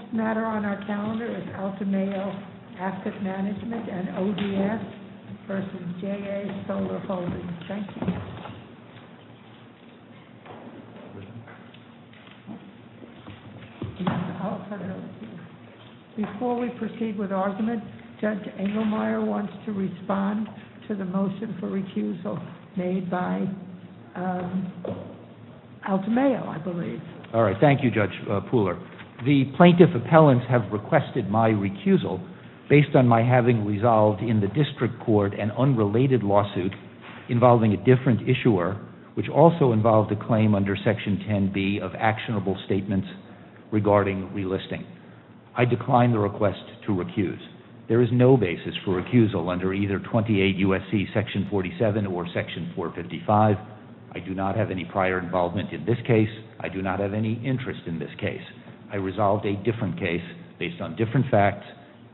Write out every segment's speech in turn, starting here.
The next matter on our calendar is Altamayo Asset Management and ODS v. JA Solar Holdings. Before we proceed with argument, Judge Engelmeyer wants to respond to the motion for recusal made by Altamayo, I believe. Thank you, Judge Pooler. The plaintiff appellants have requested my recusal based on my having resolved in the district court an unrelated lawsuit involving a different issuer, which also involved a claim under Section 10b of actionable statements regarding relisting. I decline the request to recuse. There is no basis for recusal under either 28 U.S.C. Section 47 or Section 455. I do not have any prior involvement in this case. I do not have any interest in this case. I resolved a different case based on different facts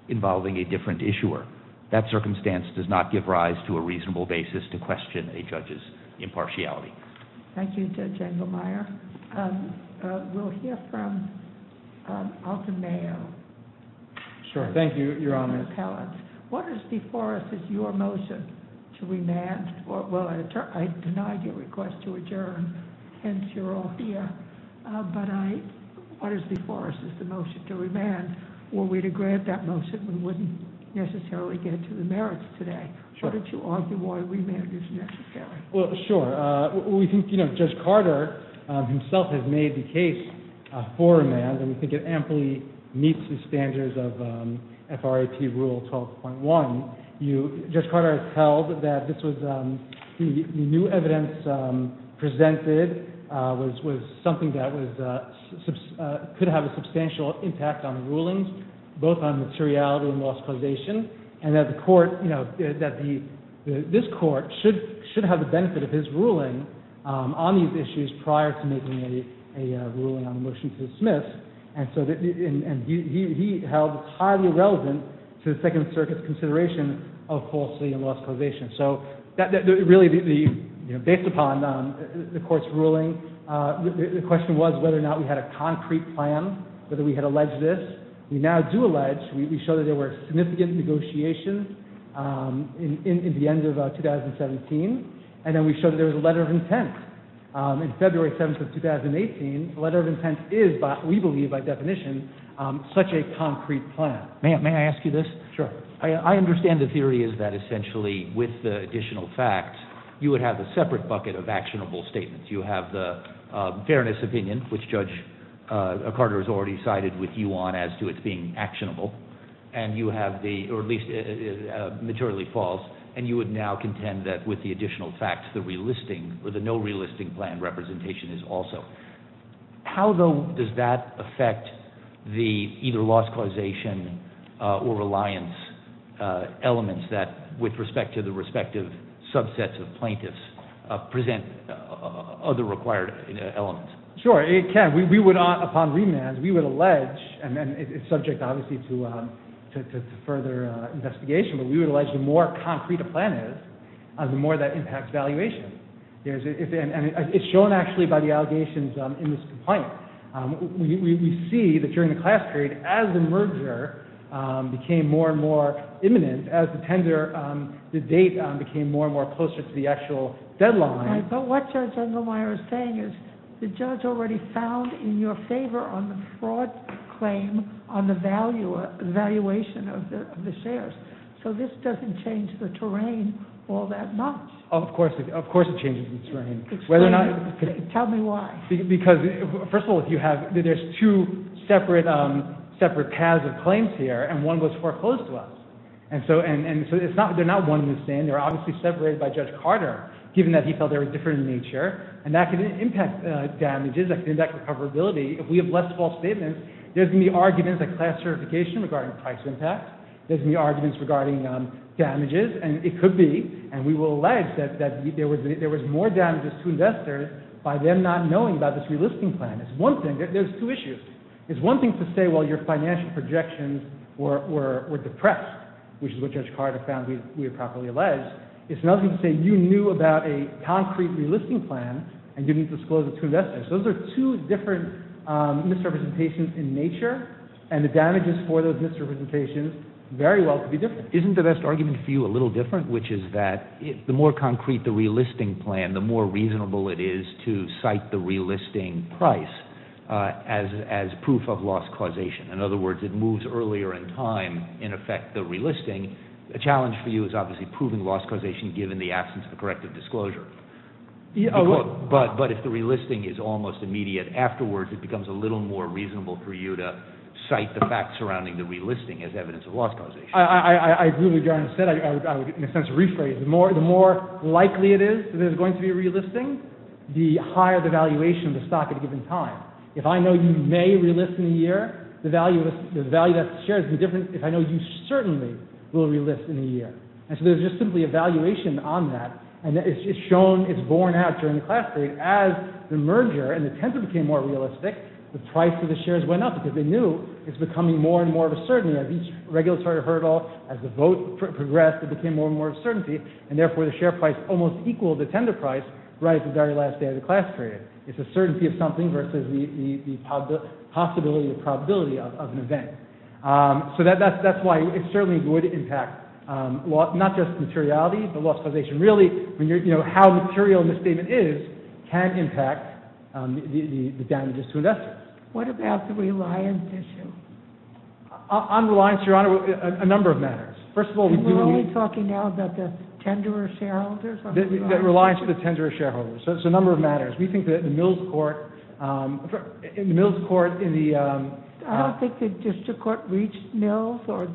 involving a different issuer. That circumstance does not give rise to a reasonable basis to question a judge's impartiality. Thank you, Judge Engelmeyer. We'll hear from Altamayo. Sure. Thank you, Your Honor. What is before us is your motion to remand. Well, I denied your request to adjourn, hence you're all here. But what is before us is the motion to remand. Were we to grant that motion, we wouldn't necessarily get to the merits today. Sure. Why don't you argue why remand is necessary? Well, sure. We think, you know, Judge Carter himself has made the case for remand, and we think it amply meets the standards of FRAP Rule 12.1. Judge Carter has held that the new evidence presented was something that could have a substantial impact on the rulings, both on materiality and loss causation, and that this Court should have the benefit of his ruling on these issues prior to making a ruling on the motion to dismiss. And he held it highly relevant to the Second Circuit's consideration of falsely and loss causation. So, really, based upon the Court's ruling, the question was whether or not we had a concrete plan, whether we had alleged this. We now do allege. We show that there were significant negotiations in the end of 2017. And then we show that there was a letter of intent in February 7th of 2018. A letter of intent is, we believe by definition, such a concrete plan. May I ask you this? Sure. I understand the theory is that essentially with the additional facts, you would have a separate bucket of actionable statements. You have the fairness opinion, which Judge Carter has already sided with you on as to its being actionable, or at least materially false, and you would now contend that with the additional facts, the relisting, or the no relisting plan representation is also. How does that affect the either loss causation or reliance elements that, with respect to the respective subsets of plaintiffs, present other required elements? Sure, it can. We would, upon remand, we would allege, and it's subject obviously to further investigation, but we would allege the more concrete a plan is, the more that impacts valuation. And it's shown actually by the allegations in this complaint. We see that during the class period, as the merger became more and more imminent, as the date became more and more closer to the actual deadline. But what Judge Engelmeyer is saying is the judge already found in your favor on the fraud claim on the valuation of the shares. So this doesn't change the terrain all that much. Of course it changes the terrain. Tell me why. Because, first of all, there's two separate paths of claims here, and one was foreclosed to us. And so they're not one and the same. They're obviously separated by Judge Carter, given that he felt they were different in nature. And that can impact damages, that can impact recoverability. If we have left false statements, there's going to be arguments like class certification regarding price impact. There's going to be arguments regarding damages. And it could be, and we will allege, that there was more damages to investors by them not knowing about this relisting plan. There's two issues. It's one thing to say, well, your financial projections were depressed, which is what Judge Carter found we had properly alleged. It's another thing to say you knew about a concrete relisting plan and didn't disclose it to investors. Those are two different misrepresentations in nature, and the damages for those misrepresentations very well could be different. Isn't the best argument for you a little different, which is that the more concrete the relisting plan, the more reasonable it is to cite the relisting price as proof of loss causation? In other words, it moves earlier in time, in effect, the relisting. The challenge for you is obviously proving loss causation given the absence of a corrective disclosure. But if the relisting is almost immediate afterwards, it becomes a little more reasonable for you to cite the facts surrounding the relisting as evidence of loss causation. I agree with what Gerard said. I would, in a sense, rephrase it. The more likely it is that there's going to be a relisting, the higher the valuation of the stock at a given time. If I know you may relist in a year, the value of that share is different if I know you certainly will relist in a year. And so there's just simply a valuation on that, and it's just shown, it's borne out during the class period. As the merger and the tender became more realistic, the price of the shares went up because they knew it's becoming more and more of a certainty. As each regulatory hurdle, as the vote progressed, it became more and more of a certainty, and therefore the share price almost equaled the tender price right at the very last day of the class period. It's a certainty of something versus the possibility or probability of an event. So that's why it certainly would impact not just materiality, but loss causation. Really, how material the statement is can impact the damages to investors. What about the reliance issue? On reliance, Your Honor, a number of matters. First of all, we do need— We're only talking now about the tenderer shareholders? Reliance to the tenderer shareholders. So it's a number of matters. We think that the Mills court— I'm sorry, the Mills court in the— I don't think the district court reached Mills or—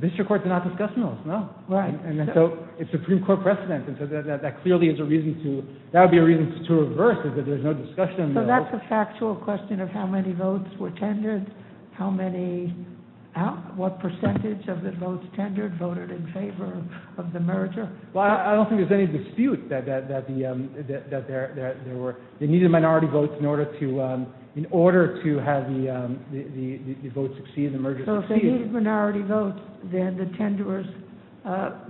District courts do not discuss Mills, no. Right. And so it's Supreme Court precedent, and so that clearly is a reason to—that would be a reason to reverse it, that there's no discussion of Mills. So that's a factual question of how many votes were tendered, how many—what percentage of the votes tendered voted in favor of the merger? Well, I don't think there's any dispute that there were—they needed minority votes in order to have the vote succeed and the merger succeed. So if they needed minority votes, then the tenderers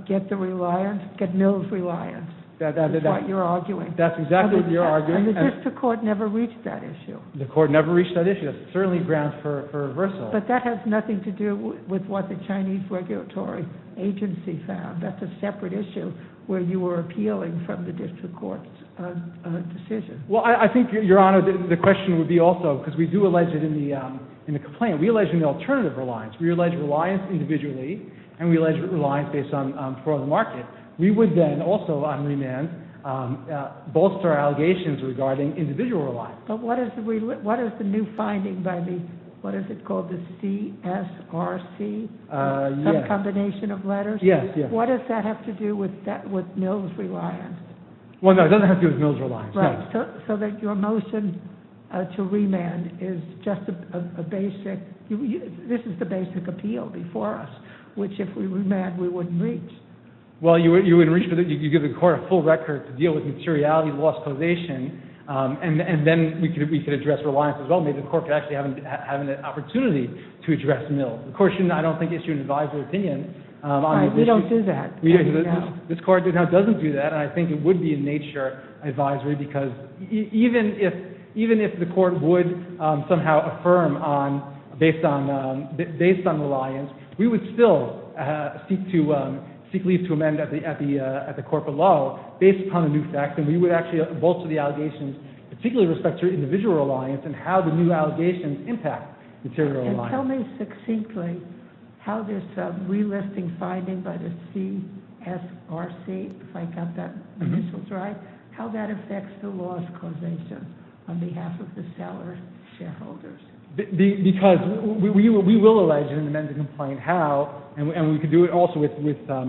get the reliance, get Mills' reliance. That's what you're arguing. That's exactly what you're arguing. And the district court never reached that issue. The court never reached that issue. That's certainly grounds for reversal. But that has nothing to do with what the Chinese regulatory agency found. That's a separate issue where you were appealing from the district court's decision. Well, I think, Your Honor, the question would be also—because we do allege it in the complaint. We allege an alternative reliance. We allege reliance individually, and we allege reliance based on the market. We would then also, on remand, bolster allegations regarding individual reliance. But what is the new finding by the—what is it called, the CSRC? Yes. Some combination of letters? Yes, yes. What does that have to do with Mills' reliance? Well, no, it doesn't have to do with Mills' reliance, no. Right, so that your motion to remand is just a basic—this is the basic appeal before us, which if we remand, we wouldn't reach. Well, you would reach for the—you give the court a full record to deal with materiality, lost causation, and then we could address reliance as well. Maybe the court could actually have an opportunity to address Mills. The court shouldn't, I don't think, issue an advisory opinion. Right, we don't do that. This court doesn't do that, and I think it would be a nature advisory because even if the court would somehow affirm based on reliance, we would still seek to—seek leave to amend at the corporate law based upon a new fact, and we would actually bolster the allegations particularly with respect to individual reliance and how the new allegations impact material reliance. And tell me succinctly how this relisting finding by the CSRC, if I got that initials right, how that affects the lost causation on behalf of the seller shareholders. Because we will allege and amend the complaint how, and we could do it also with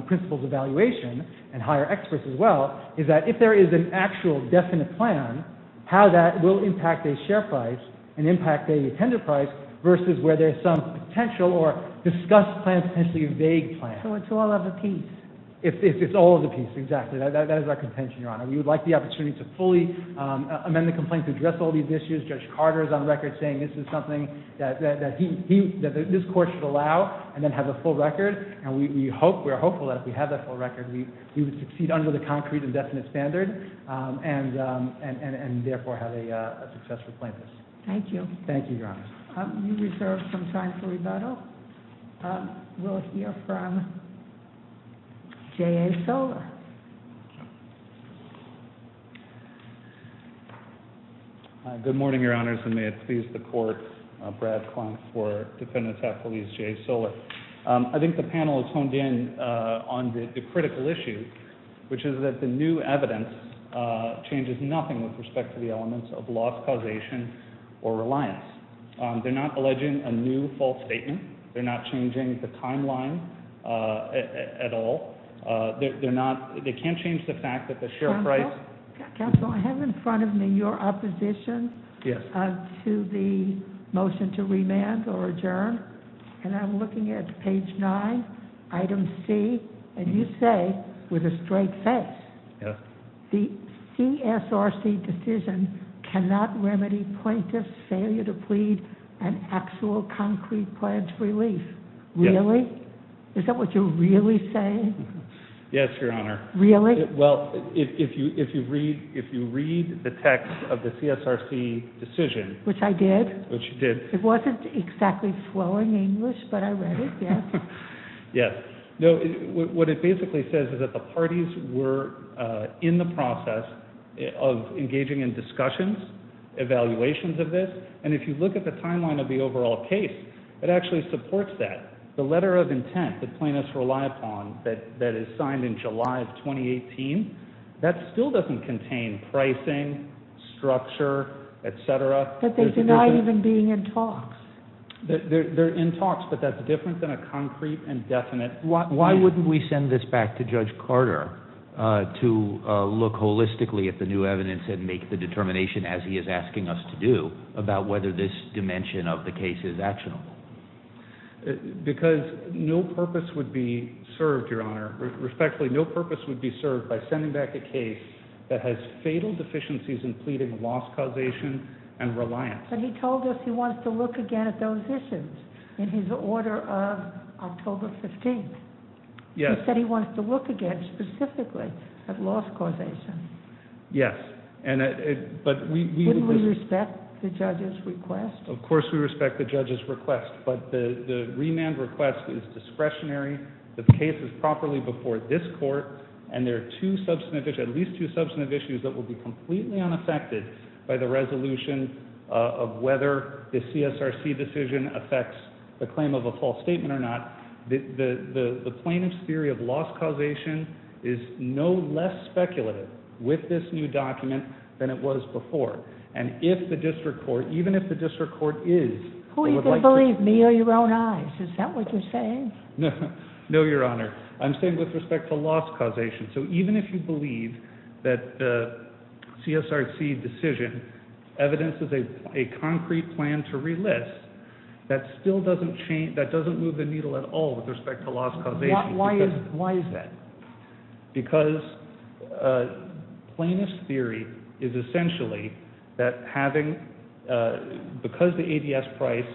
principles evaluation and hire experts as well, is that if there is an actual definite plan, how that will impact a share price and impact a tender price versus where there's some potential or discussed plan potentially a vague plan. So it's all of the piece. It's all of the piece, exactly. That is our contention, Your Honor. We would like the opportunity to fully amend the complaint to address all these issues. Judge Carter is on the record saying this is something that he—that this court should allow and then have a full record, and we hope—we're hopeful that if we have that full record, we would succeed under the concrete and definite standard and therefore have a successful plaintiff. Thank you. Thank you, Your Honor. We reserve some time for rebuttal. We'll hear from J.A. Soller. Good morning, Your Honors, and may it please the Court. Brad Klontz for defendant's affiliates, J.A. Soller. I think the panel has honed in on the critical issue, which is that the new evidence changes nothing with respect to the elements of loss causation or reliance. They're not alleging a new false statement. They're not changing the timeline at all. They're not—they can't change the fact that the share price— Counsel, I have in front of me your opposition to the motion to remand or adjourn, and I'm looking at page 9, item C, and you say with a straight face, the CSRC decision cannot remedy plaintiff's failure to plead an actual concrete plan to relief. Really? Is that what you're really saying? Yes, Your Honor. Really? Well, if you read the text of the CSRC decision— Which I did. Which you did. It wasn't exactly flowing English, but I read it, yes. Yes. No, what it basically says is that the parties were in the process of engaging in discussions, evaluations of this, and if you look at the timeline of the overall case, it actually supports that. The letter of intent that plaintiffs rely upon that is signed in July of 2018, that still doesn't contain pricing, structure, et cetera. But they deny even being in talks. They're in talks, but that's different than a concrete and definite— Why wouldn't we send this back to Judge Carter to look holistically at the new evidence and make the determination, as he is asking us to do, about whether this dimension of the case is actionable? Because no purpose would be served, Your Honor. Respectfully, no purpose would be served by sending back a case that has fatal deficiencies in pleading loss causation and reliance. But he told us he wants to look again at those issues in his order of October 15th. Yes. He said he wants to look again specifically at loss causation. Yes, but we— Wouldn't we respect the judge's request? Of course we respect the judge's request, but the remand request is discretionary. The case is properly before this court, and there are at least two substantive issues that will be completely unaffected by the resolution of whether the CSRC decision affects the claim of a false statement or not. The plaintiff's theory of loss causation is no less speculative with this new document than it was before. And if the district court—even if the district court is— Who are you going to believe, me or your own eyes? Is that what you're saying? No, Your Honor. I'm saying with respect to loss causation. So even if you believe that the CSRC decision evidences a concrete plan to relist, that still doesn't move the needle at all with respect to loss causation. Why is that? Because plaintiff's theory is essentially that having—because the ADS price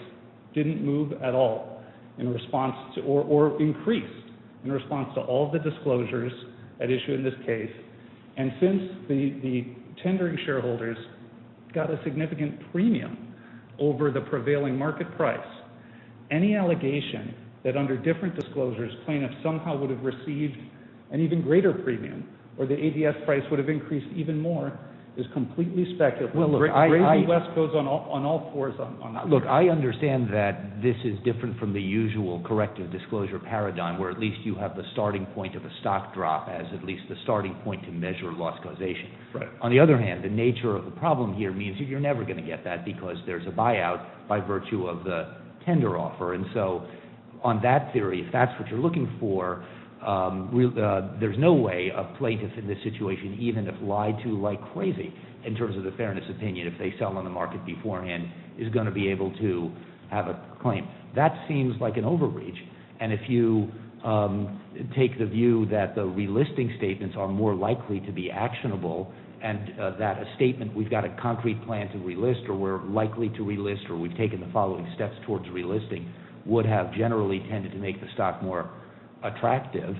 didn't move at all in response to— or increase in response to all the disclosures at issue in this case, and since the tendering shareholders got a significant premium over the prevailing market price, any allegation that under different disclosures plaintiffs somehow would have received an even greater premium or the ADS price would have increased even more is completely speculative. Well, look, I— The gravy west goes on all fours on that. Look, I understand that this is different from the usual corrective disclosure paradigm where at least you have the starting point of a stock drop as at least the starting point to measure loss causation. Right. On the other hand, the nature of the problem here means that you're never going to get that because there's a buyout by virtue of the tender offer. And so on that theory, if that's what you're looking for, there's no way a plaintiff in this situation, even if lied to like crazy in terms of the fairness opinion, if they sell on the market beforehand, is going to be able to have a claim. That seems like an overreach. And if you take the view that the relisting statements are more likely to be actionable and that a statement, we've got a concrete plan to relist or we're likely to relist or we've taken the following steps towards relisting, would have generally tended to make the stock more attractive,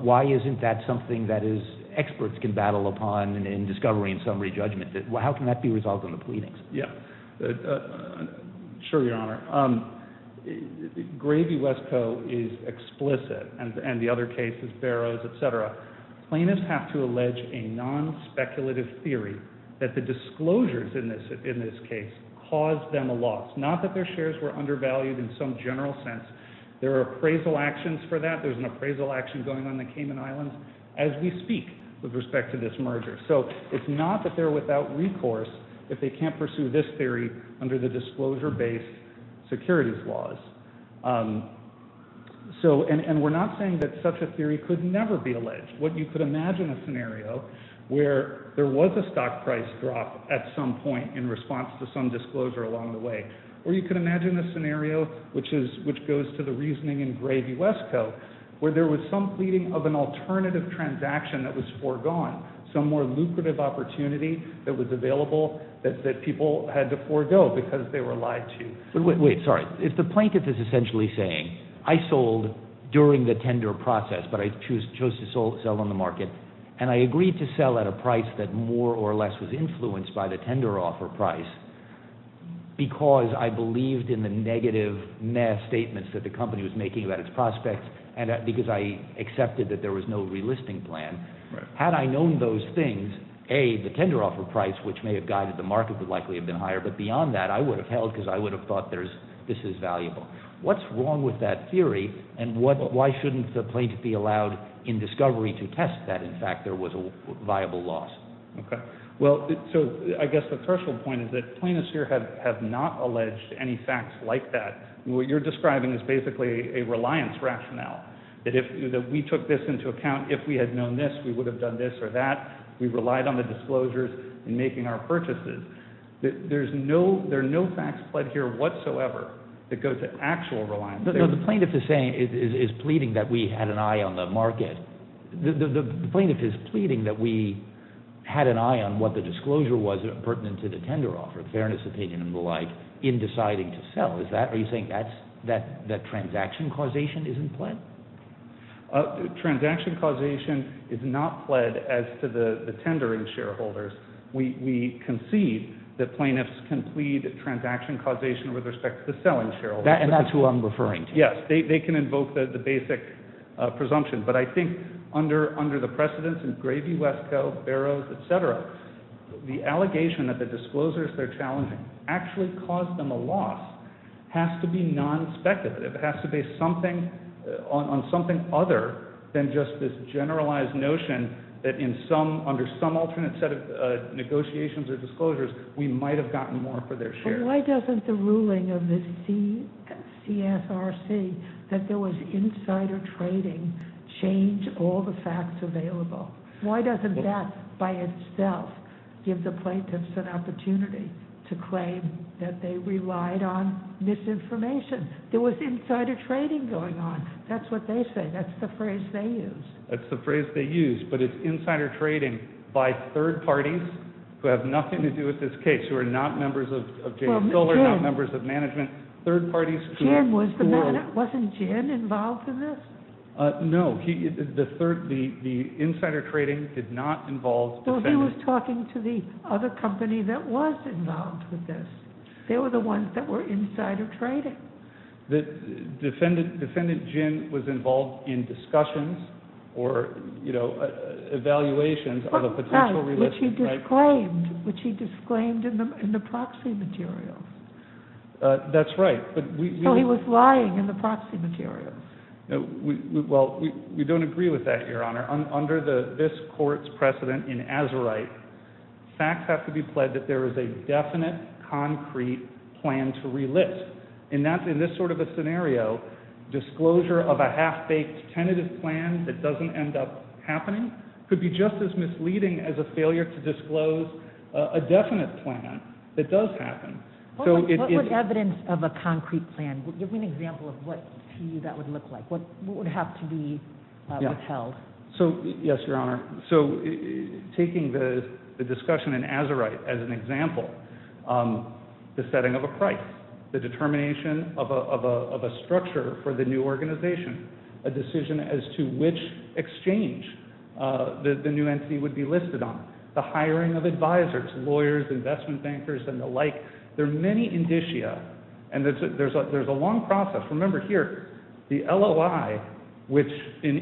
why isn't that something that experts can battle upon in discovery and summary judgment? How can that be resolved on the pleadings? Yeah. Sure, Your Honor. Gravy West Co. is explicit, and the other cases, Barrows, et cetera. Plaintiffs have to allege a non-speculative theory that the disclosures in this case caused them a loss, not that their shares were undervalued in some general sense. There are appraisal actions for that. There's an appraisal action going on in the Cayman Islands as we speak with respect to this merger. So it's not that they're without recourse if they can't pursue this theory under the disclosure-based securities laws. What you could imagine a scenario where there was a stock price drop at some point in response to some disclosure along the way, or you could imagine a scenario which goes to the reasoning in Gravy West Co. where there was some pleading of an alternative transaction that was foregone, some more lucrative opportunity that was available that people had to forego because they were lied to. Wait, sorry. If the plaintiff is essentially saying, I sold during the tender process, but I chose to sell on the market, and I agreed to sell at a price that more or less was influenced by the tender offer price because I believed in the negative mass statements that the company was making about its prospects and because I accepted that there was no relisting plan, had I known those things, A, the tender offer price, which may have guided the market, would likely have been higher, but beyond that I would have held because I would have thought this is valuable. What's wrong with that theory? And why shouldn't the plaintiff be allowed in discovery to test that, in fact, there was a viable loss? Okay. Well, so I guess the threshold point is that plaintiffs here have not alleged any facts like that. What you're describing is basically a reliance rationale, that if we took this into account, if we had known this, we would have done this or that. We relied on the disclosures in making our purchases. There are no facts pled here whatsoever that go to actual reliance. The plaintiff is pleading that we had an eye on the market. The plaintiff is pleading that we had an eye on what the disclosure was pertinent to the tender offer, fairness of opinion and the like, in deciding to sell. Are you saying that transaction causation isn't pled? Transaction causation is not pled as to the tendering shareholders. We concede that plaintiffs can plead transaction causation with respect to the selling shareholders. And that's who I'm referring to. Yes. They can invoke the basic presumption. But I think under the precedents in Gravy, Wesco, Barrows, et cetera, the allegation that the disclosures they're challenging actually caused them a loss has to be non-speculative. It has to be something on something other than just this generalized notion that under some alternate set of negotiations or disclosures, we might have gotten more for their shares. Why doesn't the ruling of the CSRC that there was insider trading change all the facts available? Why doesn't that by itself give the plaintiffs an opportunity to claim that they relied on misinformation? There was insider trading going on. That's what they say. That's the phrase they use. That's the phrase they use. But it's insider trading by third parties who have nothing to do with this case, who are not members of James Miller, not members of management, third parties. Gin was the man. Wasn't Gin involved in this? No. The insider trading did not involve defendants. He was talking to the other company that was involved with this. They were the ones that were insider trading. Defendant Gin was involved in discussions or evaluations of a potential realist. Which he disclaimed in the proxy materials. That's right. So he was lying in the proxy materials. Well, we don't agree with that, Your Honor. Under this court's precedent in Azerite, facts have to be pledged that there is a definite, concrete plan to realist. In this sort of a scenario, disclosure of a half-baked tentative plan that doesn't end up happening could be just as misleading as a failure to disclose a definite plan that does happen. What would evidence of a concrete plan? Give me an example of what to you that would look like. What would have to be withheld? Yes, Your Honor. Taking the discussion in Azerite as an example, the setting of a price, the determination of a structure for the new organization, a decision as to which exchange the new entity would be listed on, the hiring of advisors, lawyers, investment bankers, and the like. There are many indicia. And there's a long process. Remember here, the LOI, which in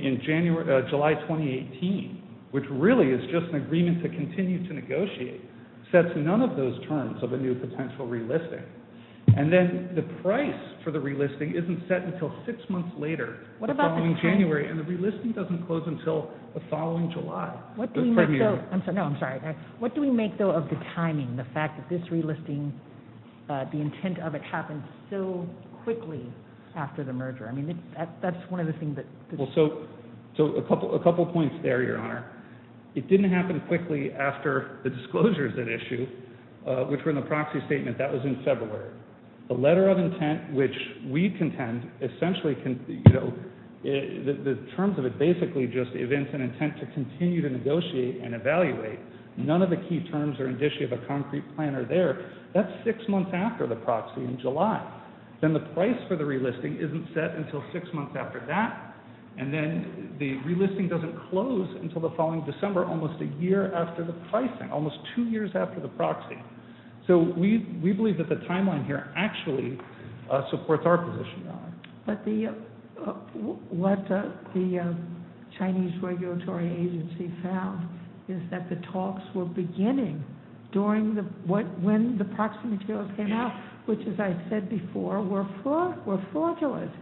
July 2018, which really is just an agreement to continue to negotiate, sets none of those terms of a new potential realistic. And then the price for the realistic isn't set until six months later, the following January, and the realistic doesn't close until the following July. What do we make, though, of the timing, the fact that this realistic, the intent of it happened so quickly after the merger? I mean, that's one of the things that... So a couple points there, Your Honor. It didn't happen quickly after the disclosures that issue, which were in the proxy statement. That was in February. The letter of intent, which we contend essentially can, you know, the terms of it basically just events an intent to continue to negotiate and evaluate. None of the key terms are indicia of a concrete plan are there. That's six months after the proxy in July. Then the price for the realistic isn't set until six months after that, and then the realistic doesn't close until the following December, almost a year after the pricing, almost two years after the proxy. So we believe that the timeline here actually supports our position. But what the Chinese regulatory agency found is that the talks were beginning during when the proxy materials came out, which, as I said before, were fraudulent.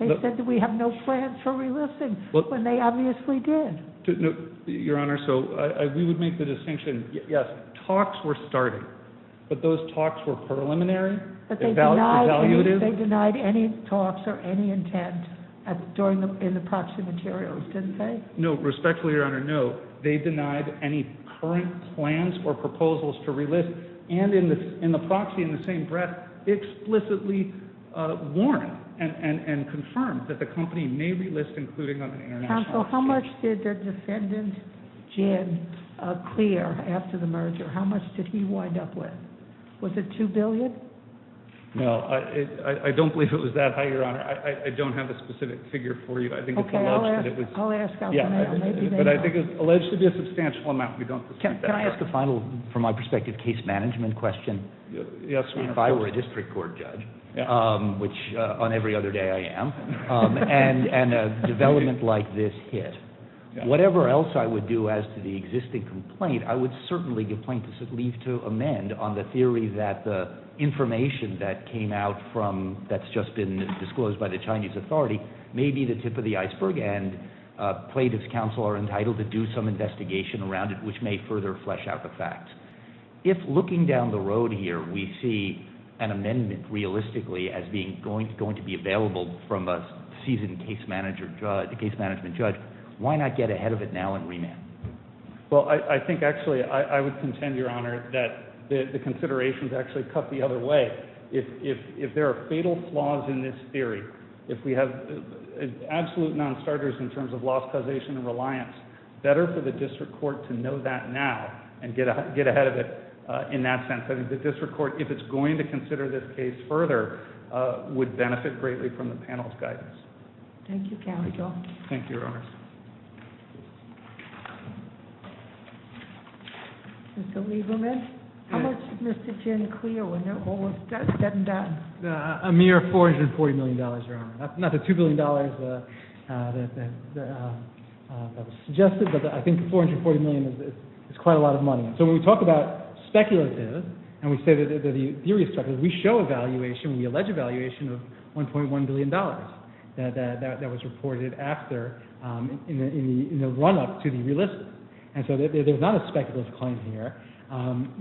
They said that we have no plans for relisting, when they obviously did. Your Honor, so we would make the distinction, yes, talks were starting, but those talks were preliminary, evaluative. But they denied any talks or any intent during the proxy materials, didn't they? No, respectfully, Your Honor, no. They denied any current plans or proposals to relist, and in the proxy in the same breath explicitly warned and confirmed that the company may relist, including on an international stage. Counsel, how much did the defendant, Jin, clear after the merger? How much did he wind up with? Was it $2 billion? No, I don't believe it was that high, Your Honor. I don't have a specific figure for you. Okay, I'll ask. But I think it was alleged to be a substantial amount. Can I ask a final, from my perspective, case management question? If I were a district court judge, which on every other day I am, and a development like this hit, whatever else I would do as to the existing complaint, I would certainly leave to amend on the theory that the information that came out from, that's just been disclosed by the Chinese authority, may be the tip of the iceberg, and plaintiffs' counsel are entitled to do some investigation around it, which may further flesh out the facts. If, looking down the road here, we see an amendment realistically as being going to be available from a seasoned case management judge, why not get ahead of it now and remand? Well, I think actually I would contend, Your Honor, that the considerations actually cut the other way. If there are fatal flaws in this theory, if we have absolute non-starters in terms of lost causation and reliance, better for the district court to know that now and get ahead of it in that sense. I think the district court, if it's going to consider this case further, would benefit greatly from the panel's guidance. Thank you, counsel. Thank you, Your Honor. Mr. Lieberman? Yes. How much did Mr. Jin clear when they're almost dead and done? A mere $440 million, Your Honor. Not the $2 billion that was suggested, but I think $440 million is quite a lot of money. So when we talk about speculative and we say that the theory is speculative, we show a valuation, we allege a valuation of $1.1 billion that was reported after in the run-up to the relic. And so there's not a speculative claim here. When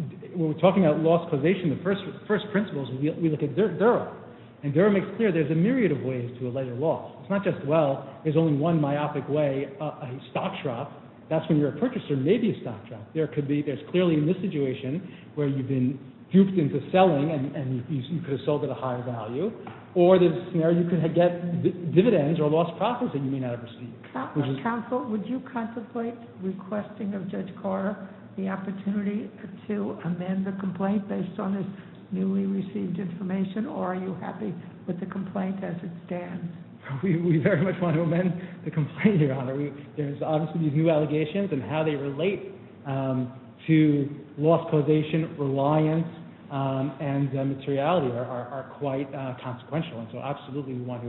we're talking about lost causation, the first principle is we look at Durrell. And Durrell makes clear there's a myriad of ways to allege a loss. It's not just, well, there's only one myopic way, a stock drop. That's when you're a purchaser, maybe a stock drop. There could be, there's clearly in this situation where you've been duped into selling and you could have sold at a higher value, or there's a scenario you could get dividends or lost profits that you may not have received. Counsel, would you contemplate requesting of Judge Carter the opportunity to amend the complaint based on his newly received information, or are you happy with the complaint as it stands? We very much want to amend the complaint, Your Honor. There's obviously these new allegations and how they relate to lost causation, reliance, and materiality are quite consequential, and so absolutely we want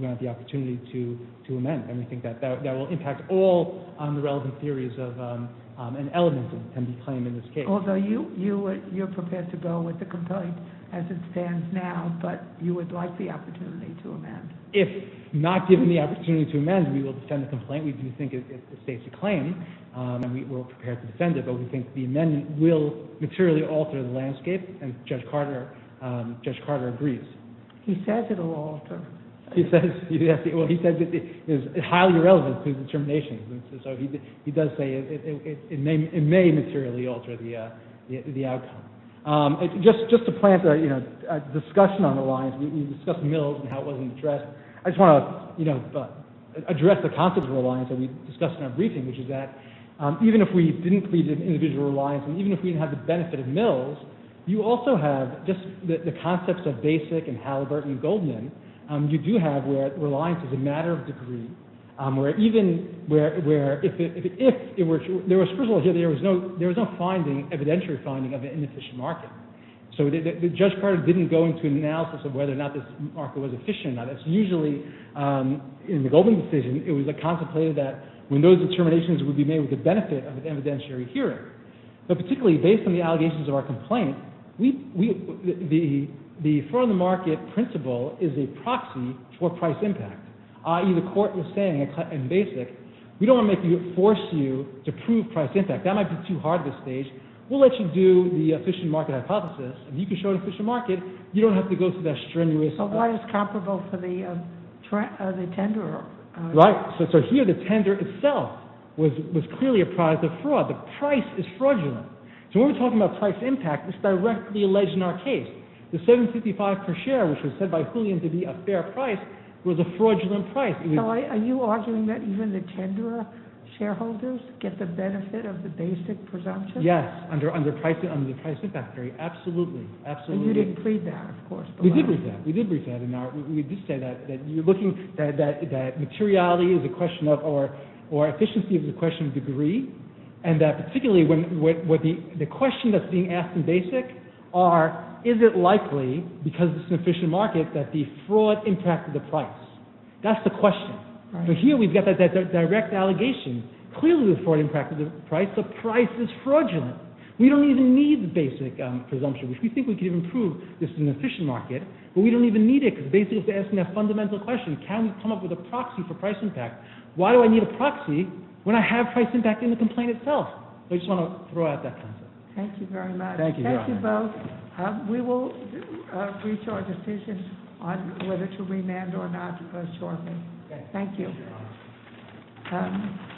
the opportunity to amend. And we think that will impact all the relevant theories and elements that can be claimed in this case. Although you're prepared to go with the complaint as it stands now, but you would like the opportunity to amend. If not given the opportunity to amend, we will defend the complaint. We do think it's a safe to claim, and we're prepared to defend it, but we think the amendment will materially alter the landscape, and Judge Carter agrees. He says it will alter. He says it is highly relevant to the determination, and so he does say it may materially alter the outcome. Just to plant a discussion on the lines, we discussed Mills and how it wasn't addressed. I just want to address the concept of reliance that we discussed in our briefing, which is that even if we didn't plead an individual reliance, and even if we didn't have the benefit of Mills, you also have just the concepts of Basic and Halliburton and Goldman, you do have where reliance is a matter of degree, where even if it were true, there was no evidentiary finding of an inefficient market. So Judge Carter didn't go into analysis of whether or not this market was efficient. Usually in the Goldman decision, it was contemplated that when those determinations would be made with the benefit of an evidentiary hearing. But particularly based on the allegations of our complaint, the for-on-the-market principle is a proxy for price impact, i.e. the court was saying in Basic, we don't want to force you to prove price impact. That might be too hard at this stage. We'll let you do the efficient market hypothesis. If you can show an efficient market, you don't have to go through that strenuous... But what is comparable for the tenderer? Right, so here the tenderer itself was clearly a product of fraud. The price is fraudulent. So when we're talking about price impact, it's directly alleged in our case. The $7.55 per share, which was said by Julian to be a fair price, was a fraudulent price. Are you arguing that even the tenderer shareholders get the benefit of the Basic presumption? Yes, under the price impact theory, absolutely. And you didn't plead that, of course. We did plead that. We did say that materiality is a question of, or efficiency is a question of degree, and particularly the question that's being asked in Basic are, is it likely, because it's an efficient market, that the fraud impacted the price? That's the question. But here we've got that direct allegation. Clearly the fraud impacted the price. The price is fraudulent. We don't even need the Basic presumption. We think we can improve this in an efficient market, but we don't even need it, because Basic is asking that fundamental question, can we come up with a proxy for price impact? Why do I need a proxy when I have price impact in the complaint itself? I just want to throw out that concept. Thank you very much. Thank you both. We will reach our decisions on whether to remand or not shortly. Thank you.